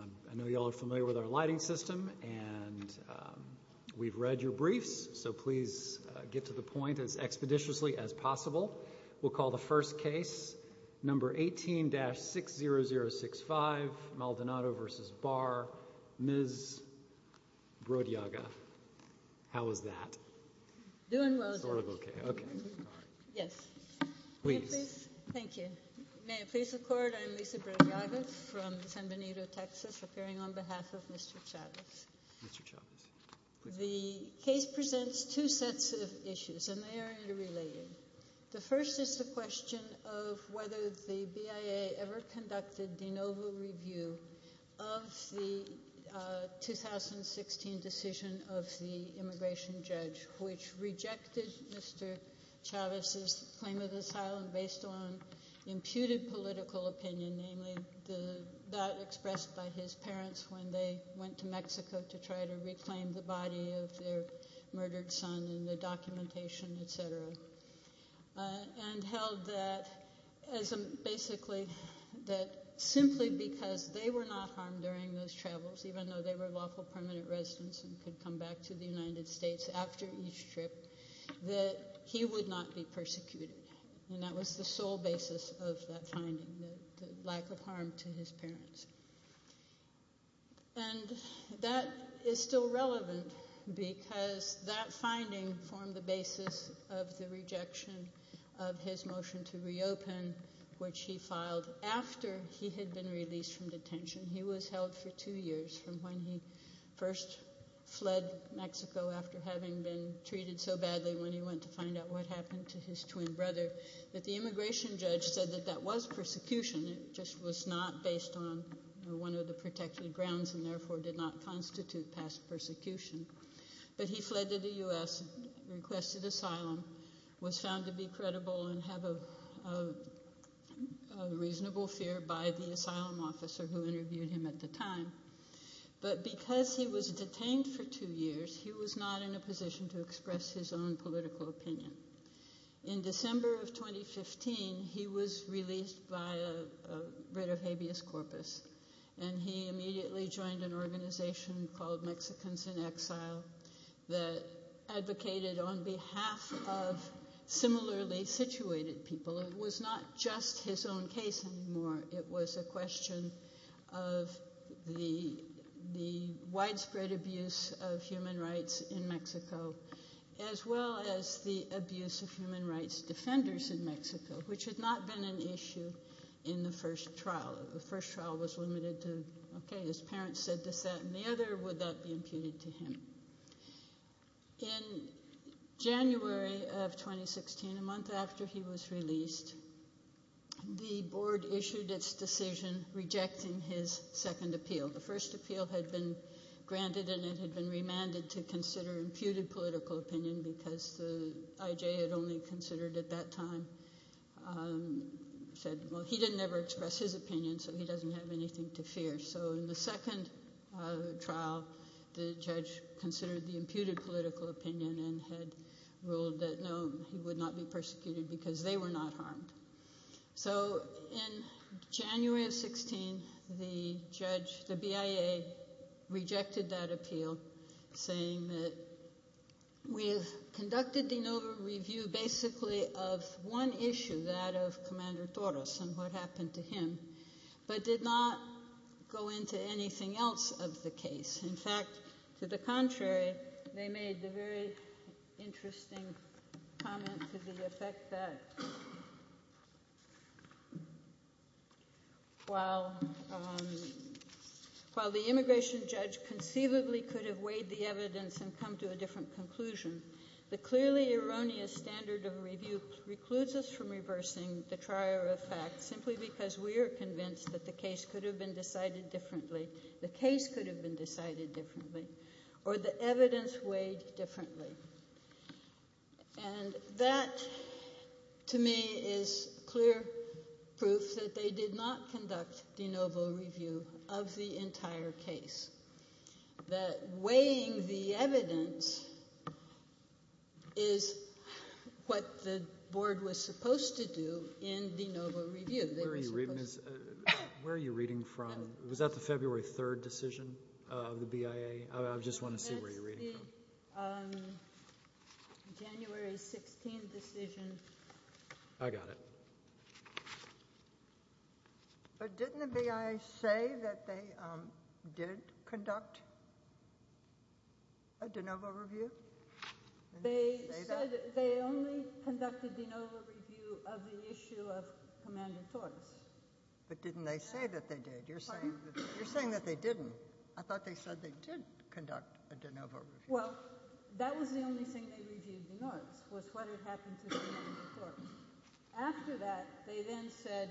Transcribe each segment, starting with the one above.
I know you all are familiar with our lighting system, and we've read your briefs, so please get to the point as expeditiously as possible. We'll call the first case, number 18-60065, Maldonado v. Barr, Ms. Brodyaga. How was that? Doing well, sir. Sort of okay, okay. Yes. Please. Thank you. May it please the Court, I'm Lisa Brodyaga from San Benito, Texas, appearing on behalf of Mr. Chavez. Mr. Chavez. The case presents two sets of issues, and they are interrelated. The first is the question of whether the BIA ever conducted de novo review of the 2016 decision of the immigration judge, which rejected Mr. Chavez's claim of asylum based on imputed political opinion, namely that expressed by his parents when they went to Mexico to try to reclaim the body of their murdered son, and the documentation, et cetera, and held that basically that simply because they were not harmed during those travels, even though they were lawful permanent residents and could come back to the United States after each trip, that he would not be persecuted. And that was the sole basis of that finding, the lack of harm to his parents. And that is still relevant because that finding formed the basis of the rejection of his motion to reopen, which he filed after he had been released from detention. He was held for two years from when he first fled Mexico after having been treated so badly when he went to find out what happened to his twin brother that the immigration judge said that that was persecution. It just was not based on one of the protected grounds and therefore did not constitute past persecution. But he fled to the U.S., requested asylum, was found to be credible and have a reasonable fear by the asylum officer who interviewed him at the time. But because he was detained for two years, he was not in a position to express his own political opinion. In December of 2015, he was released by a writ of habeas corpus, and he immediately joined an organization called Mexicans in Exile that advocated on behalf of similarly situated people. It was not just his own case anymore. It was a question of the widespread abuse of human rights in Mexico as well as the abuse of human rights defenders in Mexico, which had not been an issue in the first trial. The first trial was limited to, okay, his parents said this, that, and the other, would that be imputed to him? In January of 2016, a month after he was released, the board issued its decision rejecting his second appeal. The first appeal had been granted and it had been remanded to consider imputed political opinion because the IJ had only considered at that time, said, well, he didn't ever express his opinion so he doesn't have anything to fear. So, in the second trial, the judge considered the imputed political opinion and had ruled that no, he would not be persecuted because they were not harmed. So, in January of 2016, the judge, the BIA, rejected that appeal saying that we have conducted de novo review basically of one issue, that of Commander Torres and what happened to him, but did not go into anything else of the case. In fact, to the contrary, they made the very interesting comment to the effect that while the immigration judge conceivably could have weighed the evidence and come to a different conclusion, the clearly erroneous standard of review precludes us from reversing the trier of fact simply because we are convinced that the case could have been decided differently, the case could have been decided differently, or the evidence weighed differently. And that, to me, is clear proof that they did not conduct de novo review of the entire case. That weighing the evidence is what the board was supposed to do in de novo review. Where are you reading from? Was that the February 3rd decision of the BIA? I just want to see where you're reading from. That's the January 16th decision. I got it. But didn't the BIA say that they did conduct a de novo review? They said they only conducted de novo review of the issue of Commander Torres. But didn't they say that they did? You're saying that they didn't. I thought they said they did conduct a de novo review. Well, that was the only thing they reviewed de novo, was what had happened to Commander Torres. After that, they then said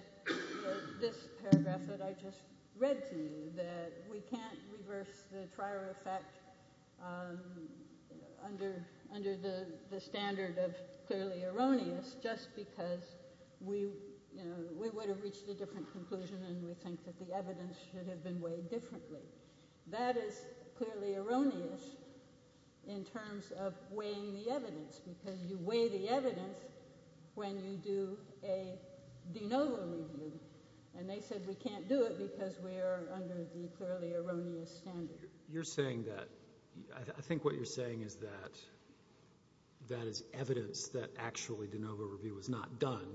this paragraph that I just read to you, that we can't reverse the trier of fact under the standard of clearly erroneous just because we would have reached a different conclusion and we think that the evidence should have been weighed differently. That is clearly erroneous in terms of weighing the evidence because you weigh the evidence when you do a de novo review. And they said we can't do it because we are under the clearly erroneous standard. You're saying that. I think what you're saying is that that is evidence that actually de novo review was not done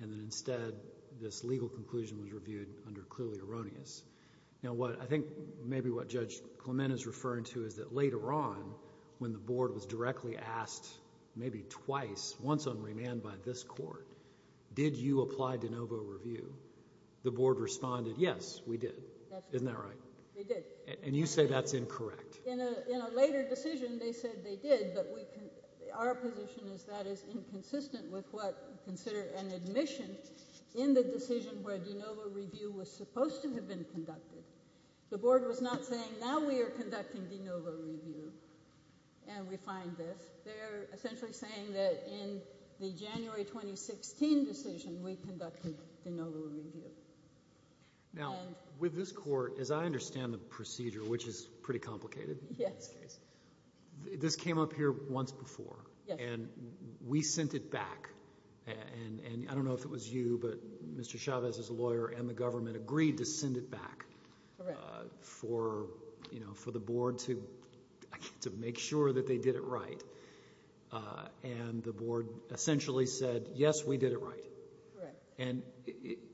and that instead this legal conclusion was reviewed under clearly erroneous. Now, I think maybe what Judge Clement is referring to is that later on when the Board was directly asked maybe twice, once on remand by this Court, did you apply de novo review, the Board responded, yes, we did. Isn't that right? They did. And you say that's incorrect. In a later decision, they said they did, but our position is that is inconsistent with what we consider an admission in the decision where de novo review was supposed to have been conducted. The Board was not saying now we are conducting de novo review and we find this. They're essentially saying that in the January 2016 decision we conducted de novo review. Now, with this Court, as I understand the procedure, which is pretty complicated in this case, this came up here once before and we sent it back. I don't know if it was you, but Mr. Chavez is a lawyer and the government agreed to send it back for the Board to make sure that they did it right. And the Board essentially said, yes, we did it right. And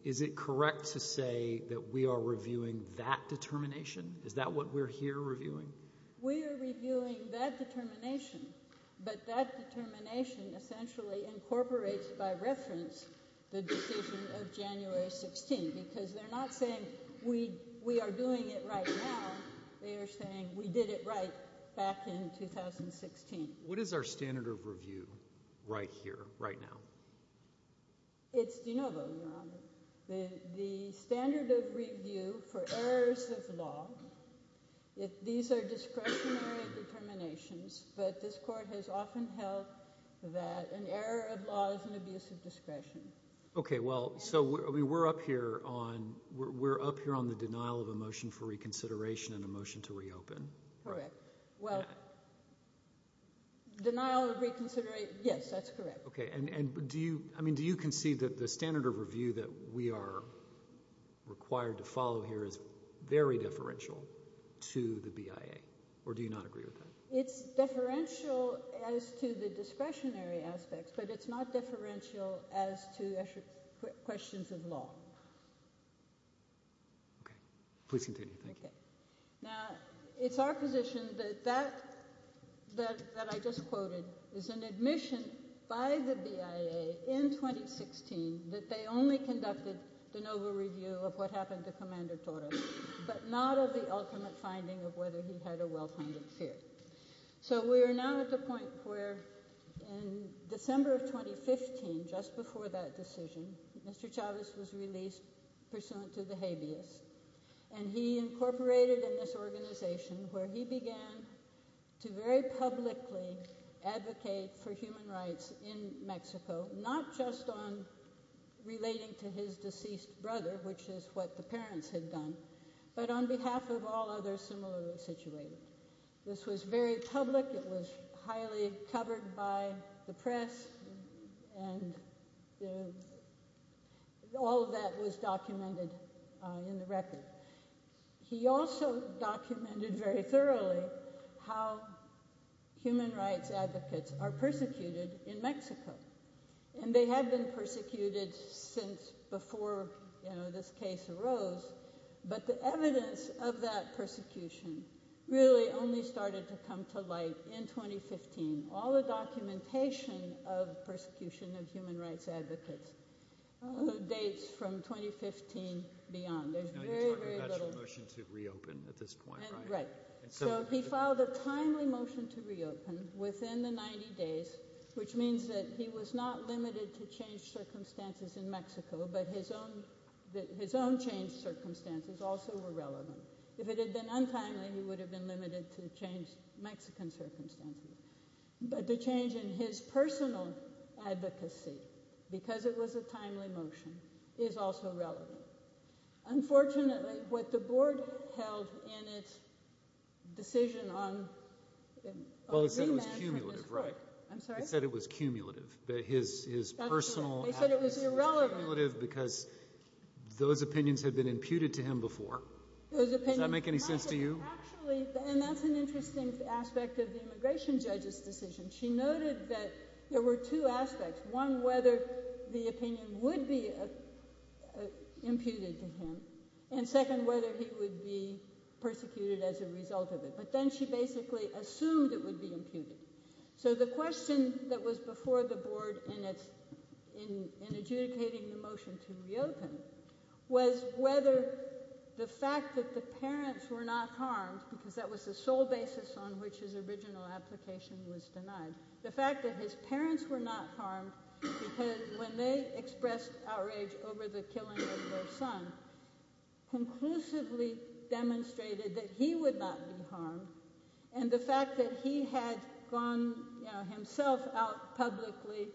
is it correct to say that we are reviewing that determination? Is that what we're here reviewing? We are reviewing that determination, but that determination essentially incorporates by reference the decision of January 2016 because they're not saying we are doing it right now. They are saying we did it right back in 2016. What is our standard of review right here, right now? It's de novo, Your Honor. The standard of review for errors of law, these are discretionary determinations, but this Court has often held that an error of law is an abuse of discretion. Okay. Well, so we're up here on the denial of a motion for reconsideration and a motion to reopen. Correct. Well, denial of reconsideration, yes, that's correct. Okay. And do you concede that the standard of review that we are required to follow here is very differential to the BIA, or do you not agree with that? It's differential as to the discretionary aspects, but it's not differential as to questions of law. Okay. Please continue. Thank you. Now, it's our position that that, that I just quoted, is an admission by the BIA in 2016 that they only conducted de novo review of what happened to Commander Torres, but not of the ultimate finding of whether he had a well-founded fear. So we are now at the point where in December of 2015, just before that decision, Mr. Chavez was released pursuant to the habeas, and he incorporated in this organization where he began to very publicly advocate for human rights in Mexico, not just on relating to his deceased brother, which is what the parents had done, but on behalf of all others similarly situated. This was very public. It was highly covered by the press, and all of that was documented in the record. He also documented very thoroughly how human rights advocates are persecuted in Mexico, and they have been persecuted since before this case arose, but the evidence of that persecution really only started to come to light in 2015. All the documentation of persecution of human rights advocates dates from 2015 beyond. You're talking about a motion to reopen at this point, right? Right. So he filed a timely motion to reopen within the 90 days, which means that he was not limited to changed circumstances in Mexico, but his own changed circumstances also were relevant. If it had been untimely, he would have been limited to changed Mexican circumstances, but the change in his personal advocacy, because it was a timely motion, is also relevant. Unfortunately, what the board held in its decision on remand from this court— Well, he said it was cumulative, right? I'm sorry? He said it was cumulative, that his personal advocacy was cumulative because those opinions had been imputed to him before. Does that make any sense to you? Actually, and that's an interesting aspect of the immigration judge's decision. She noted that there were two aspects. One, whether the opinion would be imputed to him, and second, whether he would be persecuted as a result of it. But then she basically assumed it would be imputed. So the question that was before the board in adjudicating the motion to reopen was whether the fact that the parents were not harmed, because that was the sole basis on which his original application was denied, the fact that his parents were not harmed, because when they expressed outrage over the killing of their son, conclusively demonstrated that he would not be harmed, and the fact that he had gone himself out publicly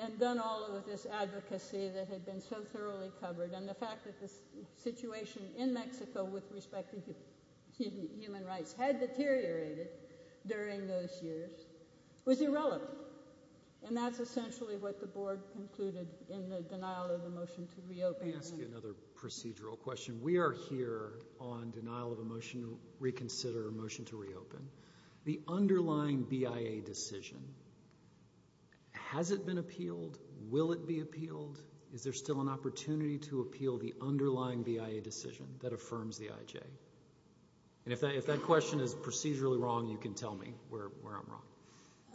and done all of this advocacy that had been so thoroughly covered, and the fact that the situation in Mexico with respect to human rights had deteriorated during those years was irrelevant. And that's essentially what the board concluded in the denial of the motion to reopen. Let me ask you another procedural question. We are here on denial of a motion to reconsider, a motion to reopen. The underlying BIA decision, has it been appealed? Will it be appealed? Is there still an opportunity to appeal the underlying BIA decision that affirms the IJ? And if that question is procedurally wrong, you can tell me where I'm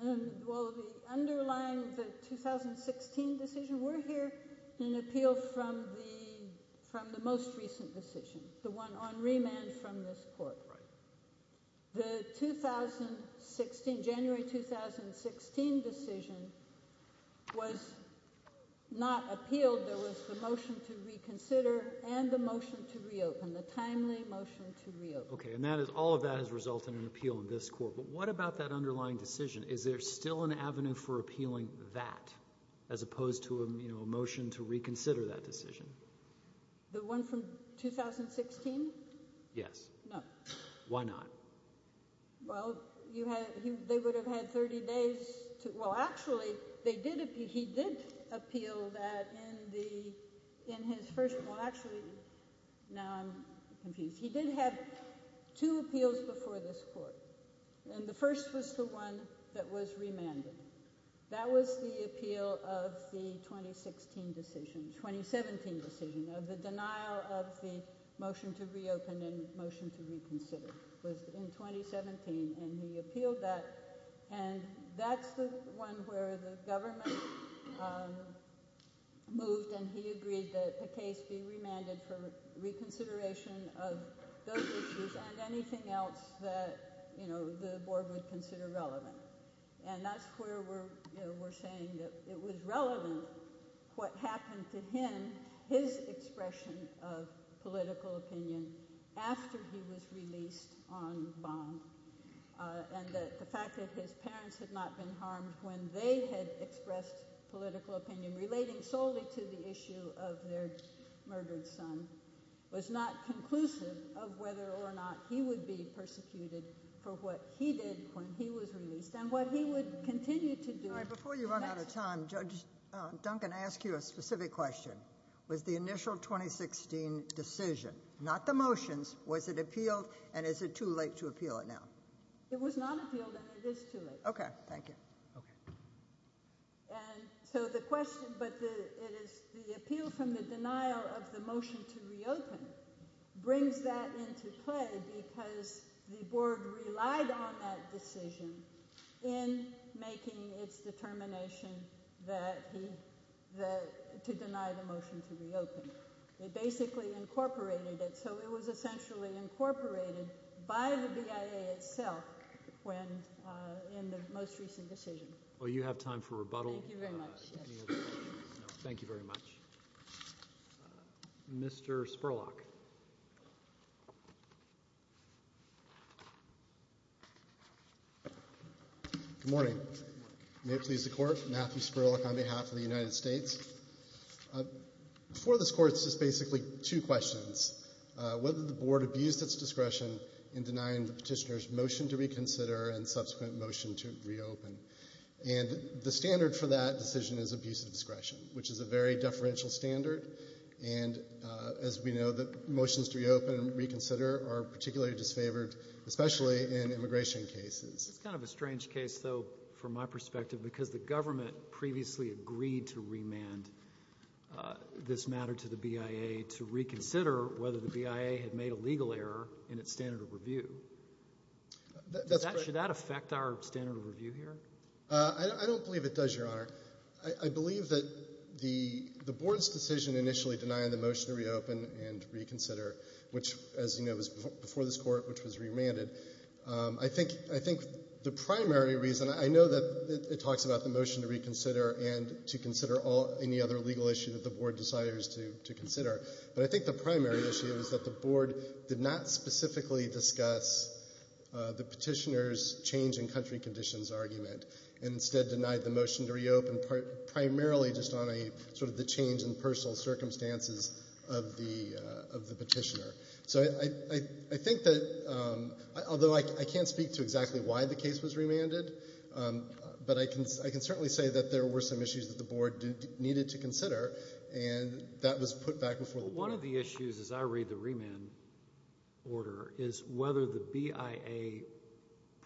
wrong. Well, the underlying, the 2016 decision, we're here in appeal from the most recent decision, the one on remand from this court. The January 2016 decision was not appealed. Okay, and all of that has resulted in an appeal in this court. But what about that underlying decision? Is there still an avenue for appealing that, as opposed to a motion to reconsider that decision? The one from 2016? Yes. No. Why not? Well, they would have had 30 days to, well, actually, he did appeal that in his first, well, actually, now I'm confused. He did have two appeals before this court, and the first was the one that was remanded. That was the appeal of the 2016 decision, 2017 decision, of the denial of the motion to reopen and motion to reconsider. It was in 2017, and he appealed that, and that's the one where the government moved, and he agreed that the case be remanded for reconsideration of those issues and anything else that the board would consider relevant. And that's where we're saying that it was relevant what happened to him, his expression of political opinion, after he was released on bond, and that the fact that his parents had not been harmed when they had expressed political opinion relating solely to the issue of their murdered son was not conclusive of whether or not he would be persecuted for what he did when he was released and what he would continue to do. All right, before you run out of time, Judge Duncan, I ask you a specific question. Was the initial 2016 decision, not the motions, was it appealed, and is it too late to appeal it now? It was not appealed, and it is too late. Okay, thank you. And so the question, but it is the appeal from the denial of the motion to reopen brings that into play because the board relied on that decision in making its determination to deny the motion to reopen. They basically incorporated it, so it was essentially incorporated by the BIA itself when in the most recent decision. Well, you have time for rebuttal. Thank you very much. No, thank you very much. Mr. Spurlock. Good morning. May it please the Court, Matthew Spurlock on behalf of the United States. Before this Court, it's just basically two questions. Whether the board abused its discretion in denying the petitioner's motion to reconsider and subsequent motion to reopen. And the standard for that decision is abuse of discretion, which is a very deferential standard. And as we know, the motions to reopen and reconsider are particularly disfavored, especially in immigration cases. It's kind of a strange case, though, from my perspective because the government previously agreed to remand this matter to the BIA to reconsider whether the BIA had made a legal error in its standard of review. Should that affect our standard of review here? I don't believe it does, Your Honor. I believe that the board's decision initially denying the motion to reopen and reconsider, which, as you know, was before this Court, which was remanded. I think the primary reason, I know that it talks about the motion to reconsider and to consider any other legal issue that the board desires to consider, but I think the primary issue is that the board did not specifically discuss the petitioner's change in country conditions argument and instead denied the motion to reopen primarily just on the change in personal circumstances of the petitioner. So I think that, although I can't speak to exactly why the case was remanded, but I can certainly say that there were some issues that the board needed to consider, and that was put back before the board. One of the issues, as I read the remand order, is whether the BIA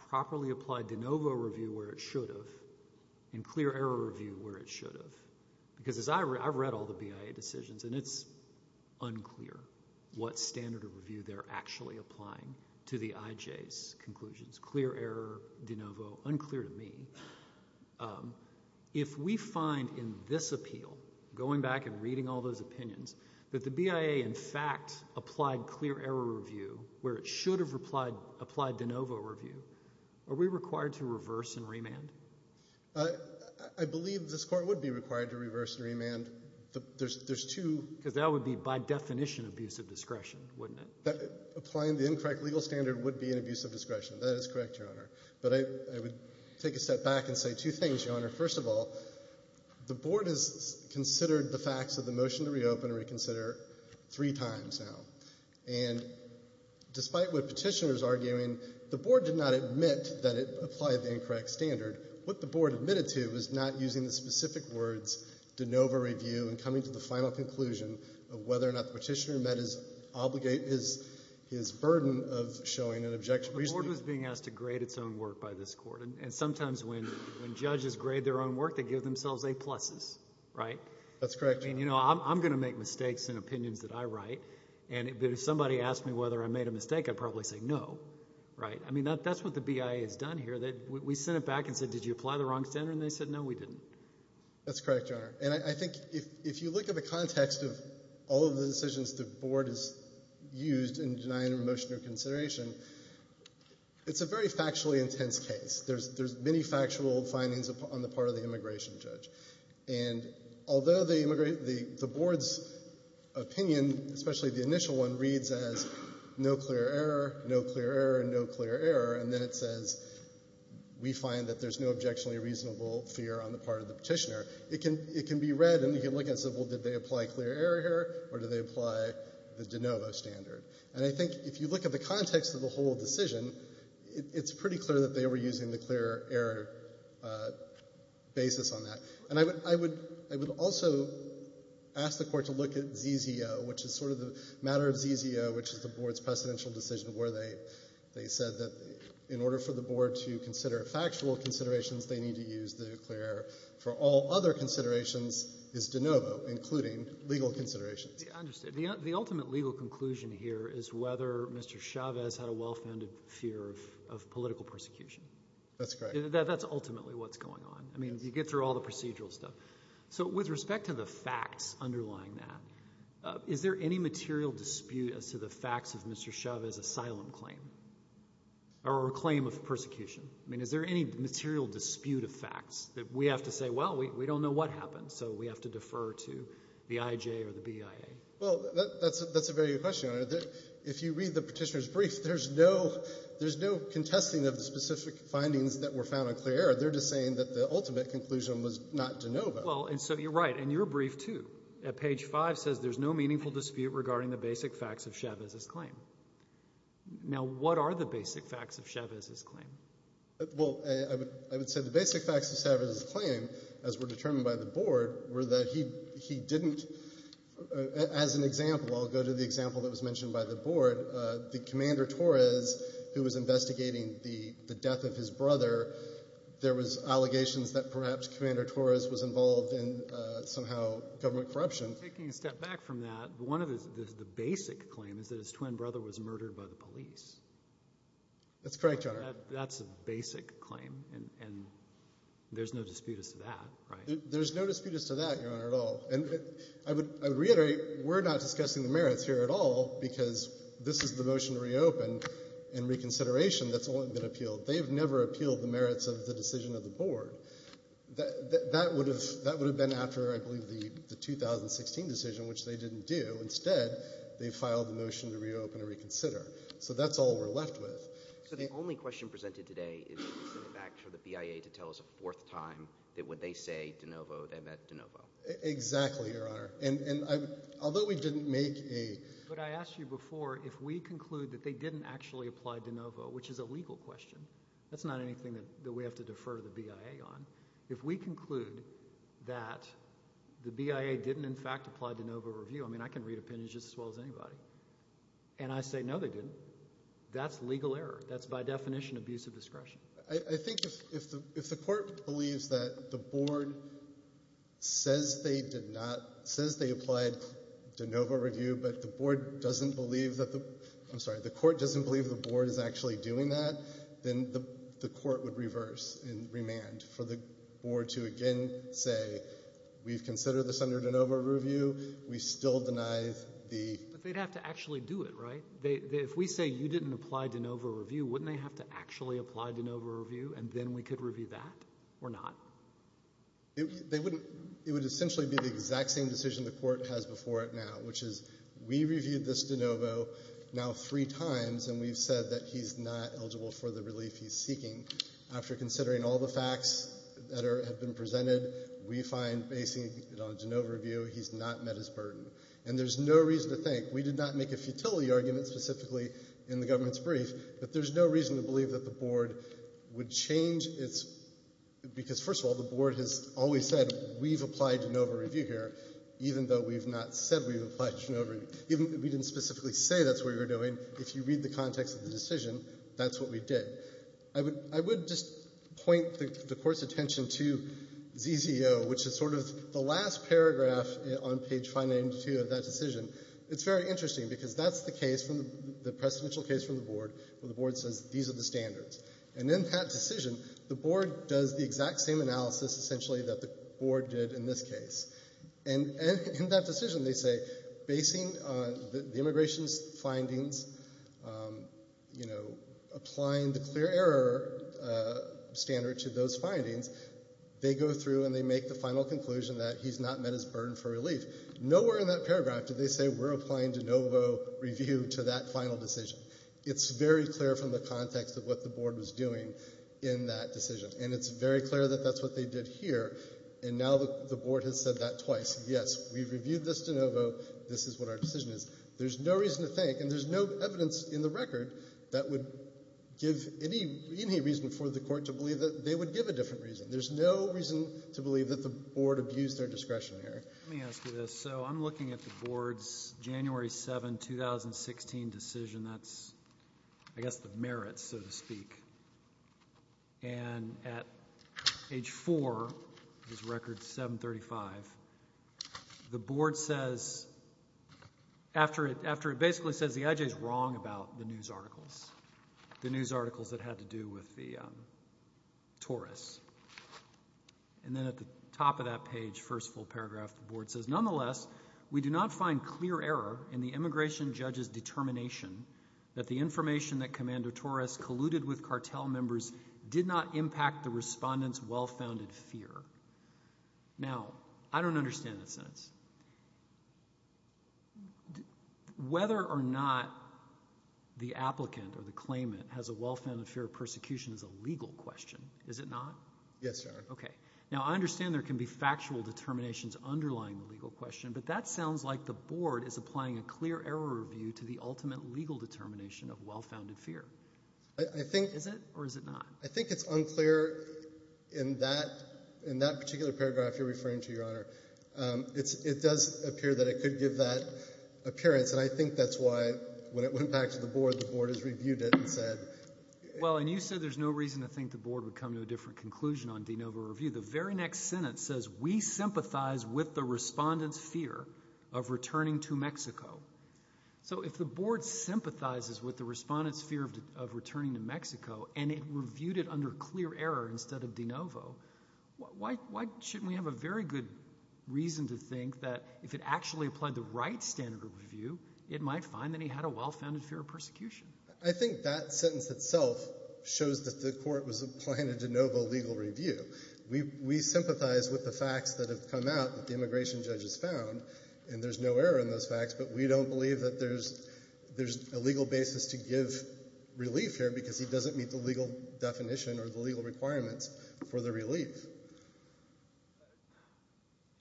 properly applied de novo review where it should have and clear error review where it should have. Because I've read all the BIA decisions, and it's unclear what standard of review they're actually applying to the IJ's conclusions. Clear error, de novo, unclear to me. If we find in this appeal, going back and reading all those opinions, that the BIA in fact applied clear error review where it should have applied de novo review, are we required to reverse and remand? I believe this court would be required to reverse and remand. There's two... Because that would be, by definition, abusive discretion, wouldn't it? Applying the incorrect legal standard would be an abusive discretion. That is correct, Your Honor. But I would take a step back and say two things, Your Honor. First of all, the board has considered the facts of the motion to reopen and reconsider three times now. And despite what Petitioner is arguing, the board did not admit that it applied the incorrect standard. What the board admitted to was not using the specific words de novo review and coming to the final conclusion of whether or not Petitioner met his burden of showing an objection. The board was being asked to grade its own work by this court. And sometimes when judges grade their own work, they give themselves A pluses, right? That's correct, Your Honor. I mean, you know, I'm going to make mistakes in opinions that I write. But if somebody asked me whether I made a mistake, I'd probably say no, right? I mean, that's what the BIA has done here. We sent it back and said, did you apply the wrong standard? And they said, no, we didn't. That's correct, Your Honor. And I think if you look at the context of all of the decisions the board has used in denying remotion or consideration, it's a very factually intense case. There's many factual findings on the part of the immigration judge. And although the board's opinion, especially the initial one, reads as no clear error, no clear error, no clear error, and then it says we find that there's no objectionably reasonable fear on the part of the Petitioner, it can be read and you can look and say, well, did they apply clear error here or did they apply the de novo standard? And I think if you look at the context of the whole decision, it's pretty clear that they were using the clear error basis on that. And I would also ask the Court to look at ZZO, which is sort of the matter of ZZO, which is the board's precedential decision where they said that in order for the board to consider factual considerations, they need to use the clear error. For all other considerations, it's de novo, including legal considerations. I understand. The ultimate legal conclusion here is whether Mr. Chavez had a well-founded fear of political persecution. That's correct. That's ultimately what's going on. I mean, you get through all the procedural stuff. So with respect to the facts underlying that, is there any material dispute as to the facts of Mr. Chavez's asylum claim or claim of persecution? I mean, is there any material dispute of facts that we have to say, well, we don't know what happened, so we have to defer to the IJ or the BIA? Well, that's a very good question. If you read the petitioner's brief, there's no contesting of the specific findings that were found on clear error. They're just saying that the ultimate conclusion was not de novo. Well, and so you're right. And your brief, too, at page 5, says there's no meaningful dispute regarding the basic facts of Chavez's claim. Now, what are the basic facts of Chavez's claim? Well, I would say the basic facts of Chavez's claim, as were determined by the board, were that he didn't, as an example, I'll go to the example that was mentioned by the board, that Commander Torres, who was investigating the death of his brother, there was allegations that perhaps Commander Torres was involved in, somehow, government corruption. Taking a step back from that, one of the basic claims is that his twin brother was murdered by the police. That's correct, Your Honor. That's a basic claim, and there's no dispute as to that, right? There's no dispute as to that, Your Honor, at all. And I would reiterate, we're not discussing the merits here at all because this is the motion to reopen and reconsideration that's only been appealed. That would have been after, I believe, the 2016 decision, which they didn't do. Instead, they filed the motion to reopen and reconsider. So that's all we're left with. So the only question presented today is in fact for the BIA to tell us a fourth time that when they say de novo, they meant de novo. Exactly, Your Honor. And although we didn't make a – But I asked you before if we conclude that they didn't actually apply de novo, which is a legal question. That's not anything that we have to defer to the BIA on. If we conclude that the BIA didn't in fact apply de novo review – I mean, I can read opinions just as well as anybody – and I say no, they didn't, that's legal error. That's by definition abusive discretion. I think if the court believes that the board says they did not – says they applied de novo review, but the board doesn't believe that the – I'm sorry, the court doesn't believe the board is actually doing that, then the court would reverse and remand for the board to again say, we've considered this under de novo review. We still deny the – But they'd have to actually do it, right? If we say you didn't apply de novo review, wouldn't they have to actually apply de novo review and then we could review that or not? It would essentially be the exact same decision the court has before it now, which is we reviewed this de novo now three times and we've said that he's not eligible for the relief he's seeking. After considering all the facts that have been presented, we find, basing it on de novo review, he's not met his burden. And there's no reason to think – we did not make a futility argument specifically in the government's brief, but there's no reason to believe that the board would change its – because, first of all, the board has always said we've applied de novo review here, even though we've not said we've applied de novo review. We didn't specifically say that's what we were doing. If you read the context of the decision, that's what we did. I would just point the court's attention to ZZO, which is sort of the last paragraph on page 592 of that decision. It's very interesting because that's the case, the precedential case from the board where the board says these are the standards. And in that decision, the board does the exact same analysis, essentially, that the board did in this case. And in that decision, they say, basing the immigration's findings, applying the clear error standard to those findings, they go through and they make the final conclusion that he's not met his burden for relief. Nowhere in that paragraph do they say we're applying de novo review to that final decision. It's very clear from the context of what the board was doing in that decision, and it's very clear that that's what they did here. And now the board has said that twice. Yes, we've reviewed this de novo. This is what our decision is. There's no reason to think, and there's no evidence in the record that would give any reason for the court to believe that they would give a different reason. There's no reason to believe that the board abused their discretion here. Let me ask you this. So I'm looking at the board's January 7, 2016 decision. That's, I guess, the merits, so to speak. And at age 4, his record's 735, the board says, after it basically says, the I.J. is wrong about the news articles, the news articles that had to do with Torres. And then at the top of that page, first full paragraph, the board says, nonetheless, we do not find clear error in the immigration judge's determination that the information that Commander Torres colluded with cartel members did not impact the respondent's well-founded fear. Now, I don't understand that sentence. Whether or not the applicant or the claimant has a well-founded fear of persecution is a legal question. Is it not? Yes, Your Honor. Okay. Now, I understand there can be factual determinations underlying the legal question, but that sounds like the board is applying a clear error review to the ultimate legal determination of well-founded fear. Is it or is it not? I think it's unclear in that particular paragraph you're referring to, Your Honor. It does appear that it could give that appearance, and I think that's why when it went back to the board, the board has reviewed it and said. Well, and you said there's no reason to think the board would come to a different conclusion on de novo review. The very next sentence says we sympathize with the respondent's fear of returning to Mexico. So if the board sympathizes with the respondent's fear of returning to Mexico and it reviewed it under clear error instead of de novo, why shouldn't we have a very good reason to think that if it actually applied the right standard of review, it might find that he had a well-founded fear of persecution? I think that sentence itself shows that the court was applying a de novo legal review. We sympathize with the facts that have come out that the immigration judge has found, and there's no error in those facts, but we don't believe that there's a legal basis to give relief here because he doesn't meet the legal definition or the legal requirements for the relief.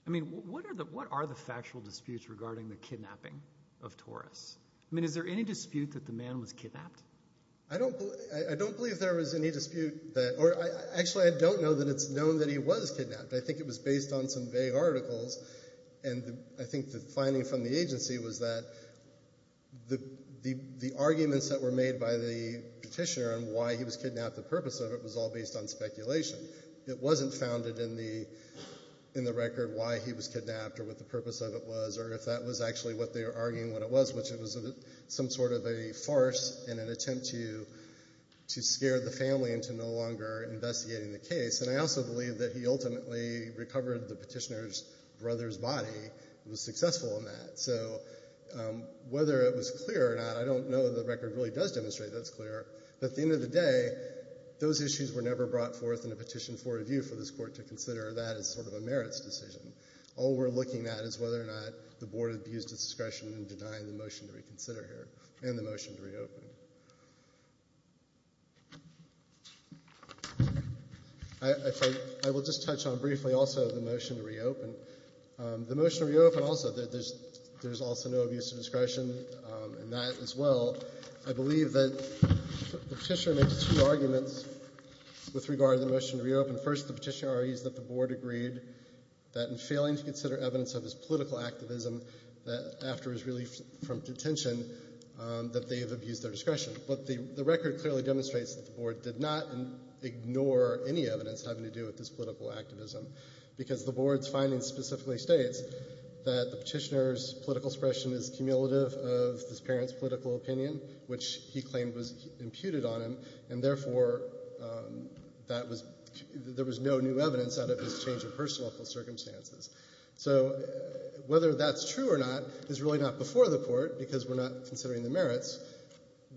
I mean what are the factual disputes regarding the kidnapping of Torres? I don't believe there was any dispute. Actually, I don't know that it's known that he was kidnapped. I think it was based on some vague articles, and I think the finding from the agency was that the arguments that were made by the petitioner on why he was kidnapped, the purpose of it, was all based on speculation. It wasn't founded in the record why he was kidnapped or what the purpose of it was or if that was actually what they were arguing what it was, which it was some sort of a farce and an attempt to scare the family into no longer investigating the case. And I also believe that he ultimately recovered the petitioner's brother's body and was successful in that. So whether it was clear or not, I don't know. The record really does demonstrate that it's clear. But at the end of the day, those issues were never brought forth in a petition for review for this court to consider that as sort of a merits decision. All we're looking at is whether or not the Board abused its discretion in denying the motion to reconsider here and the motion to reopen. I will just touch on briefly also the motion to reopen. The motion to reopen also, there's also no abuse of discretion in that as well. I believe that the petitioner made two arguments with regard to the motion to reopen. First, the petitioner argues that the Board agreed that in failing to consider evidence of his political activism that after his relief from detention that they have abused their discretion. But the record clearly demonstrates that the Board did not ignore any evidence having to do with his political activism because the Board's findings specifically states that the petitioner's political expression is cumulative of his parents' political opinion, which he claimed was imputed on him, and therefore there was no new evidence out of his change of personal circumstances. So whether that's true or not is really not before the Court because we're not considering the merits.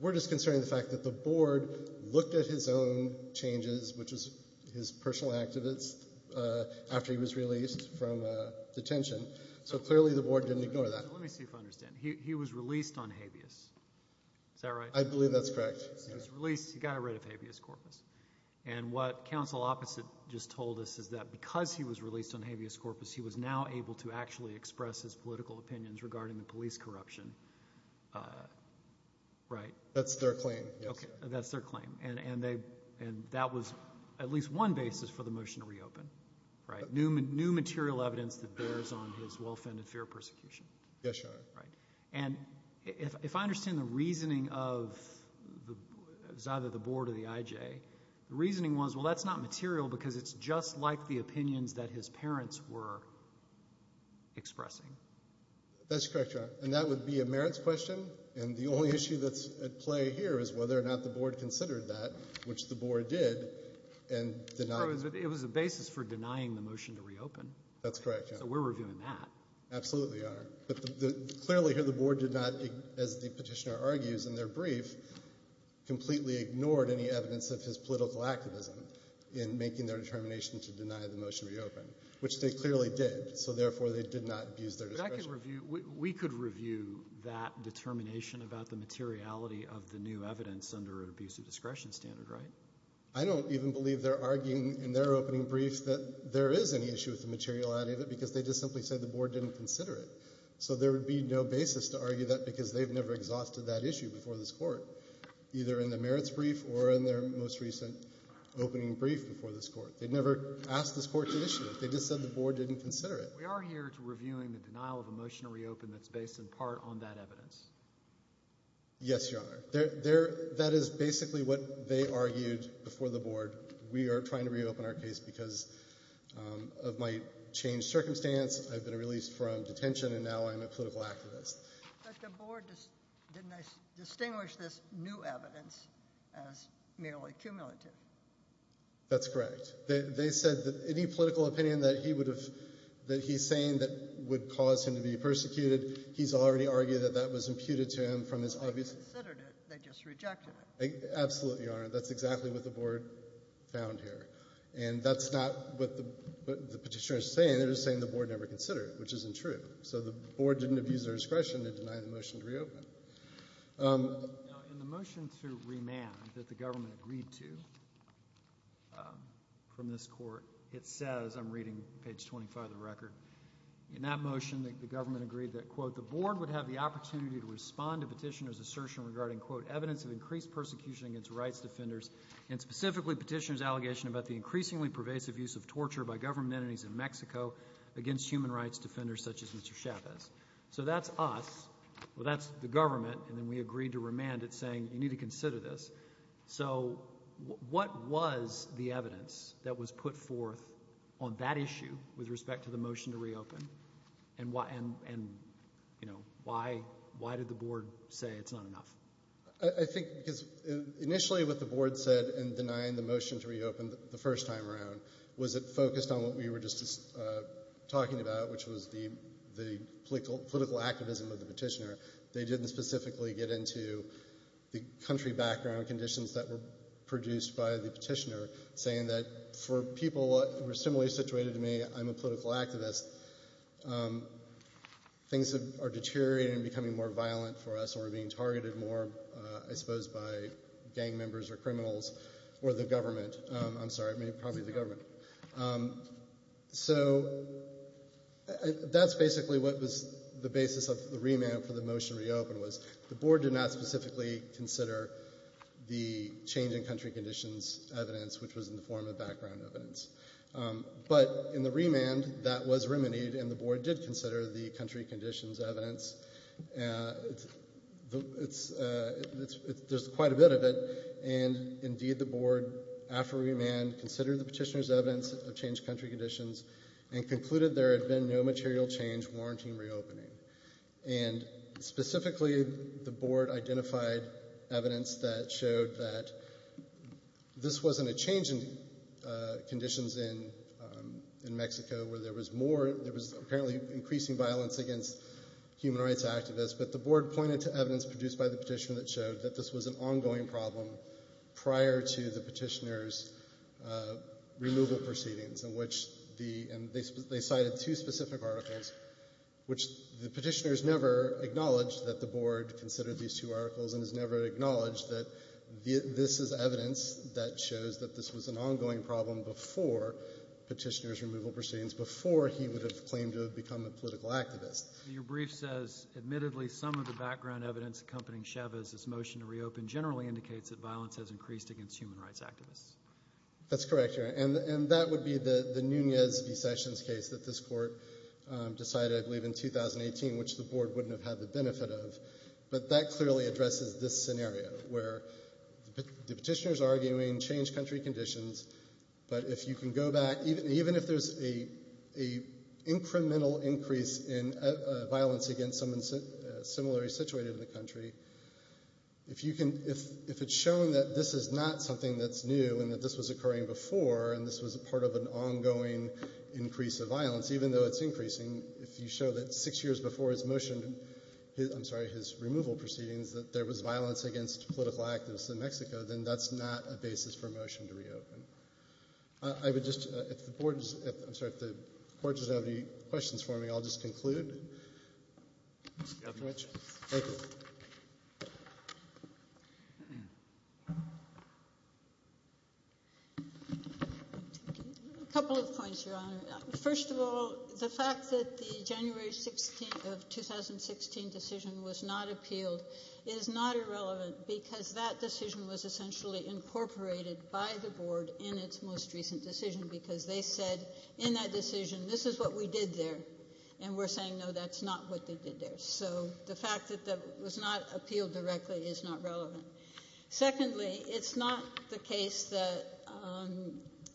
We're just considering the fact that the Board looked at his own changes, which was his personal activities after he was released from detention. So clearly the Board didn't ignore that. Let me see if I understand. He was released on habeas. Is that right? I believe that's correct. He was released. He got rid of habeas corpus. And what counsel opposite just told us is that because he was released on habeas corpus, he was now able to actually express his political opinions regarding the police corruption. That's their claim. That's their claim, and that was at least one basis for the motion to reopen, new material evidence that bears on his well-fended fear of persecution. Yes, Your Honor. And if I understand the reasoning of either the Board or the IJ, the reasoning was, well, that's not material because it's just like the opinions that his parents were expressing. That's correct, Your Honor. And that would be a merits question, and the only issue that's at play here is whether or not the Board considered that, which the Board did, and denied it. It was a basis for denying the motion to reopen. So we're reviewing that. Absolutely, Your Honor. But clearly here the Board did not, as the petitioner argues in their brief, completely ignored any evidence of his political activism in making their determination to deny the motion to reopen, which they clearly did. So therefore they did not abuse their discretion. But I could review – we could review that determination about the materiality of the new evidence under an abusive discretion standard, right? I don't even believe they're arguing in their opening brief that there is any issue with the materiality of it so there would be no basis to argue that because they've never exhausted that issue before this Court, either in the merits brief or in their most recent opening brief before this Court. They've never asked this Court to issue it. They just said the Board didn't consider it. We are here to review the denial of a motion to reopen that's based in part on that evidence. Yes, Your Honor. That is basically what they argued before the Board. We are trying to reopen our case because of my changed circumstance. I've been released from detention and now I'm a political activist. But the Board didn't distinguish this new evidence as merely cumulative. That's correct. They said that any political opinion that he would have – that he's saying that would cause him to be persecuted, he's already argued that that was imputed to him from his obvious – They didn't consider it. They just rejected it. Absolutely, Your Honor. That's exactly what the Board found here. And that's not what the petitioner is saying. They're just saying the Board never considered it, which isn't true. So the Board didn't abuse their discretion to deny the motion to reopen. Now, in the motion to remand that the government agreed to from this Court, it says – I'm reading page 25 of the record – in that motion the government agreed that, quote, the Board would have the opportunity to respond to petitioner's assertion regarding, quote, evidence of increased persecution against rights defenders and specifically petitioner's allegation about the increasingly pervasive use of torture by government entities in Mexico against human rights defenders such as Mr. Chavez. So that's us. Well, that's the government. And then we agreed to remand it saying you need to consider this. So what was the evidence that was put forth on that issue with respect to the motion to reopen? And, you know, why did the Board say it's not enough? I think because initially what the Board said in denying the motion to reopen the first time around was it focused on what we were just talking about, which was the political activism of the petitioner. They didn't specifically get into the country background conditions that were produced by the petitioner, saying that for people who are similarly situated to me, I'm a political activist, things are deteriorating and becoming more violent for us and we're being targeted more, I suppose, by gang members or criminals or the government. I'm sorry, probably the government. So that's basically what was the basis of the remand for the motion to reopen was the Board did not specifically consider the change in country conditions evidence, which was in the form of background evidence. But in the remand that was remedied and the Board did consider the country conditions evidence. There's quite a bit of it, and indeed the Board, after remand, considered the petitioner's evidence of changed country conditions and concluded there had been no material change warranting reopening. And specifically the Board identified evidence that showed that this wasn't a change in conditions in Mexico where there was more, there was apparently increasing violence against human rights activists, but the Board pointed to evidence produced by the petitioner that showed that this was an ongoing problem prior to the petitioner's removal proceedings, in which they cited two specific articles, which the petitioner's never acknowledged that the Board considered these two articles and has never acknowledged that this is evidence that shows that this was an ongoing problem before petitioner's removal proceedings, before he would have claimed to have become a political activist. Your brief says, Admittedly, some of the background evidence accompanying Chavez's motion to reopen generally indicates that violence has increased against human rights activists. That's correct, Your Honor. And that would be the Nunez v. Sessions case that this Court decided, I believe, in 2018, which the Board wouldn't have had the benefit of. But that clearly addresses this scenario, where the petitioner's arguing change country conditions, but if you can go back, even if there's an incremental increase in violence against someone similarly situated in the country, if it's shown that this is not something that's new and that this was occurring before and this was part of an ongoing increase of violence, even though it's increasing, if you show that six years before his removal proceedings that there was violence against political activists in Mexico, then that's not a basis for a motion to reopen. If the Court doesn't have any questions for me, I'll just conclude. A couple of points, Your Honor. First of all, the fact that the January 16th of 2016 decision was not appealed is not irrelevant because that decision was essentially incorporated by the Board in its most recent decision because they said in that decision, this is what we did there, and we're saying, no, that's not what they did there. So the fact that that was not appealed directly is not relevant. Secondly, it's not the case that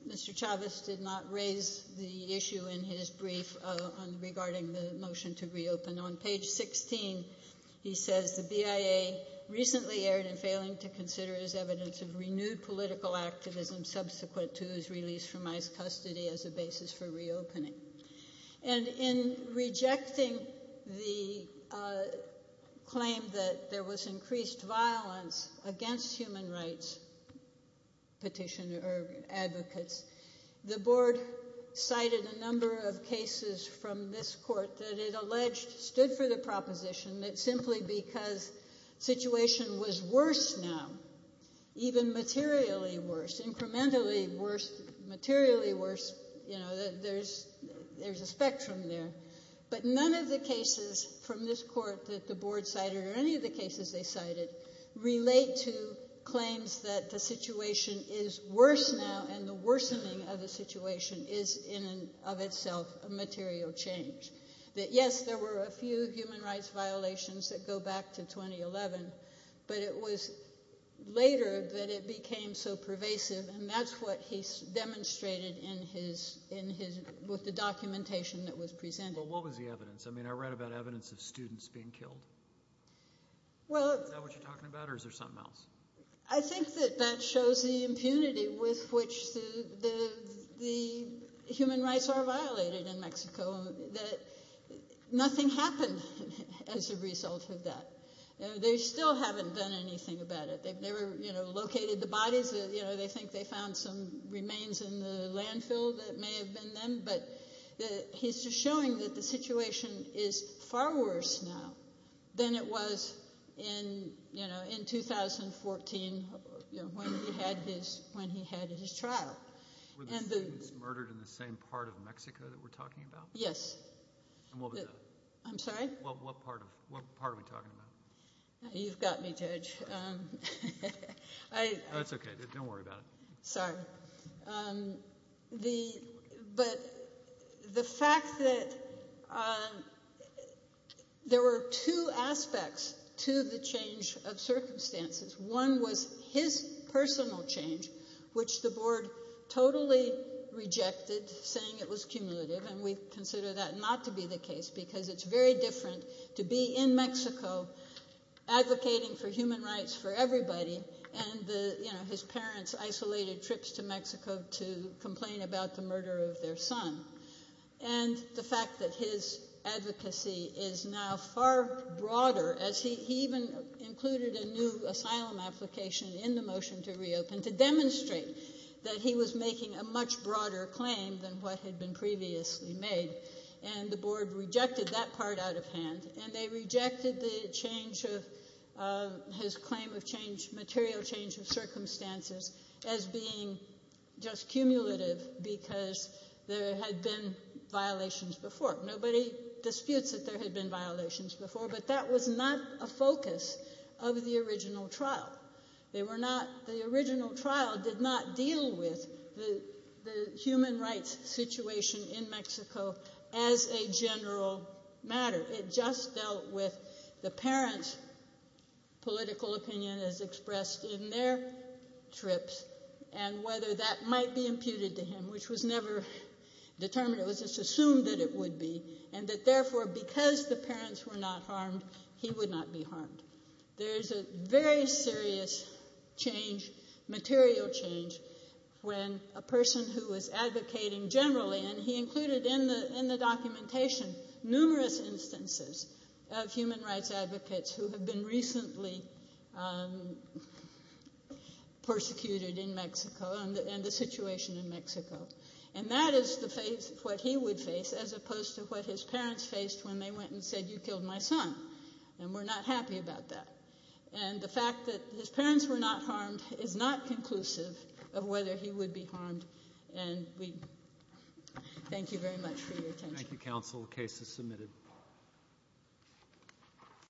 Mr. Chavez did not raise the issue in his brief regarding the motion to reopen. On page 16, he says, the BIA recently erred in failing to consider as evidence of renewed political activism subsequent to his release from ICE custody as a basis for reopening. And in rejecting the claim that there was increased violence against human rights advocates, the Board cited a number of cases from this Court that it alleged stood for the proposition that simply because the situation was worse now, even materially worse, incrementally worse, there's a spectrum there. But none of the cases from this Court that the Board cited or any of the cases they cited relate to claims that the situation is worse now and the worsening of the situation is in and of itself a material change. That yes, there were a few human rights violations that go back to 2011, but it was later that it became so pervasive, and that's what he demonstrated with the documentation that was presented. But what was the evidence? I mean, I read about evidence of students being killed. Is that what you're talking about, or is there something else? I think that that shows the impunity with which the human rights are violated in Mexico, that nothing happened as a result of that. They still haven't done anything about it. They've never located the bodies. They think they found some remains in the landfill that may have been them, but he's just showing that the situation is far worse now than it was in 2014 when he had his trial. Were the students murdered in the same part of Mexico that we're talking about? Yes. And what was that? I'm sorry? What part are we talking about? You've got me, Judge. That's okay. Don't worry about it. Sorry. But the fact that there were two aspects to the change of circumstances. One was his personal change, which the board totally rejected, saying it was cumulative, and we consider that not to be the case because it's very different to be in Mexico advocating for human rights for everybody and his parents' isolated trips to Mexico to complain about the murder of their son. And the fact that his advocacy is now far broader, as he even included a new asylum application in the motion to reopen to demonstrate that he was making a much broader claim than what had been previously made, and the board rejected that part out of hand, and they rejected the change of his claim of material change of circumstances as being just cumulative because there had been violations before. Nobody disputes that there had been violations before, but that was not a focus of the original trial. The original trial did not deal with the human rights situation in Mexico as a general matter. It just dealt with the parents' political opinion as expressed in their trips and whether that might be imputed to him, which was never determined. It was just assumed that it would be, and that, therefore, because the parents were not harmed, he would not be harmed. There is a very serious change, material change, when a person who was advocating generally, and he included in the documentation numerous instances of human rights advocates who had been recently persecuted in Mexico and the situation in Mexico, and that is what he would face as opposed to what his parents faced when they went and said, You killed my son, and we're not happy about that. And the fact that his parents were not harmed is not conclusive of whether he would be harmed, and we thank you very much for your attention. Thank you, counsel. The case is submitted.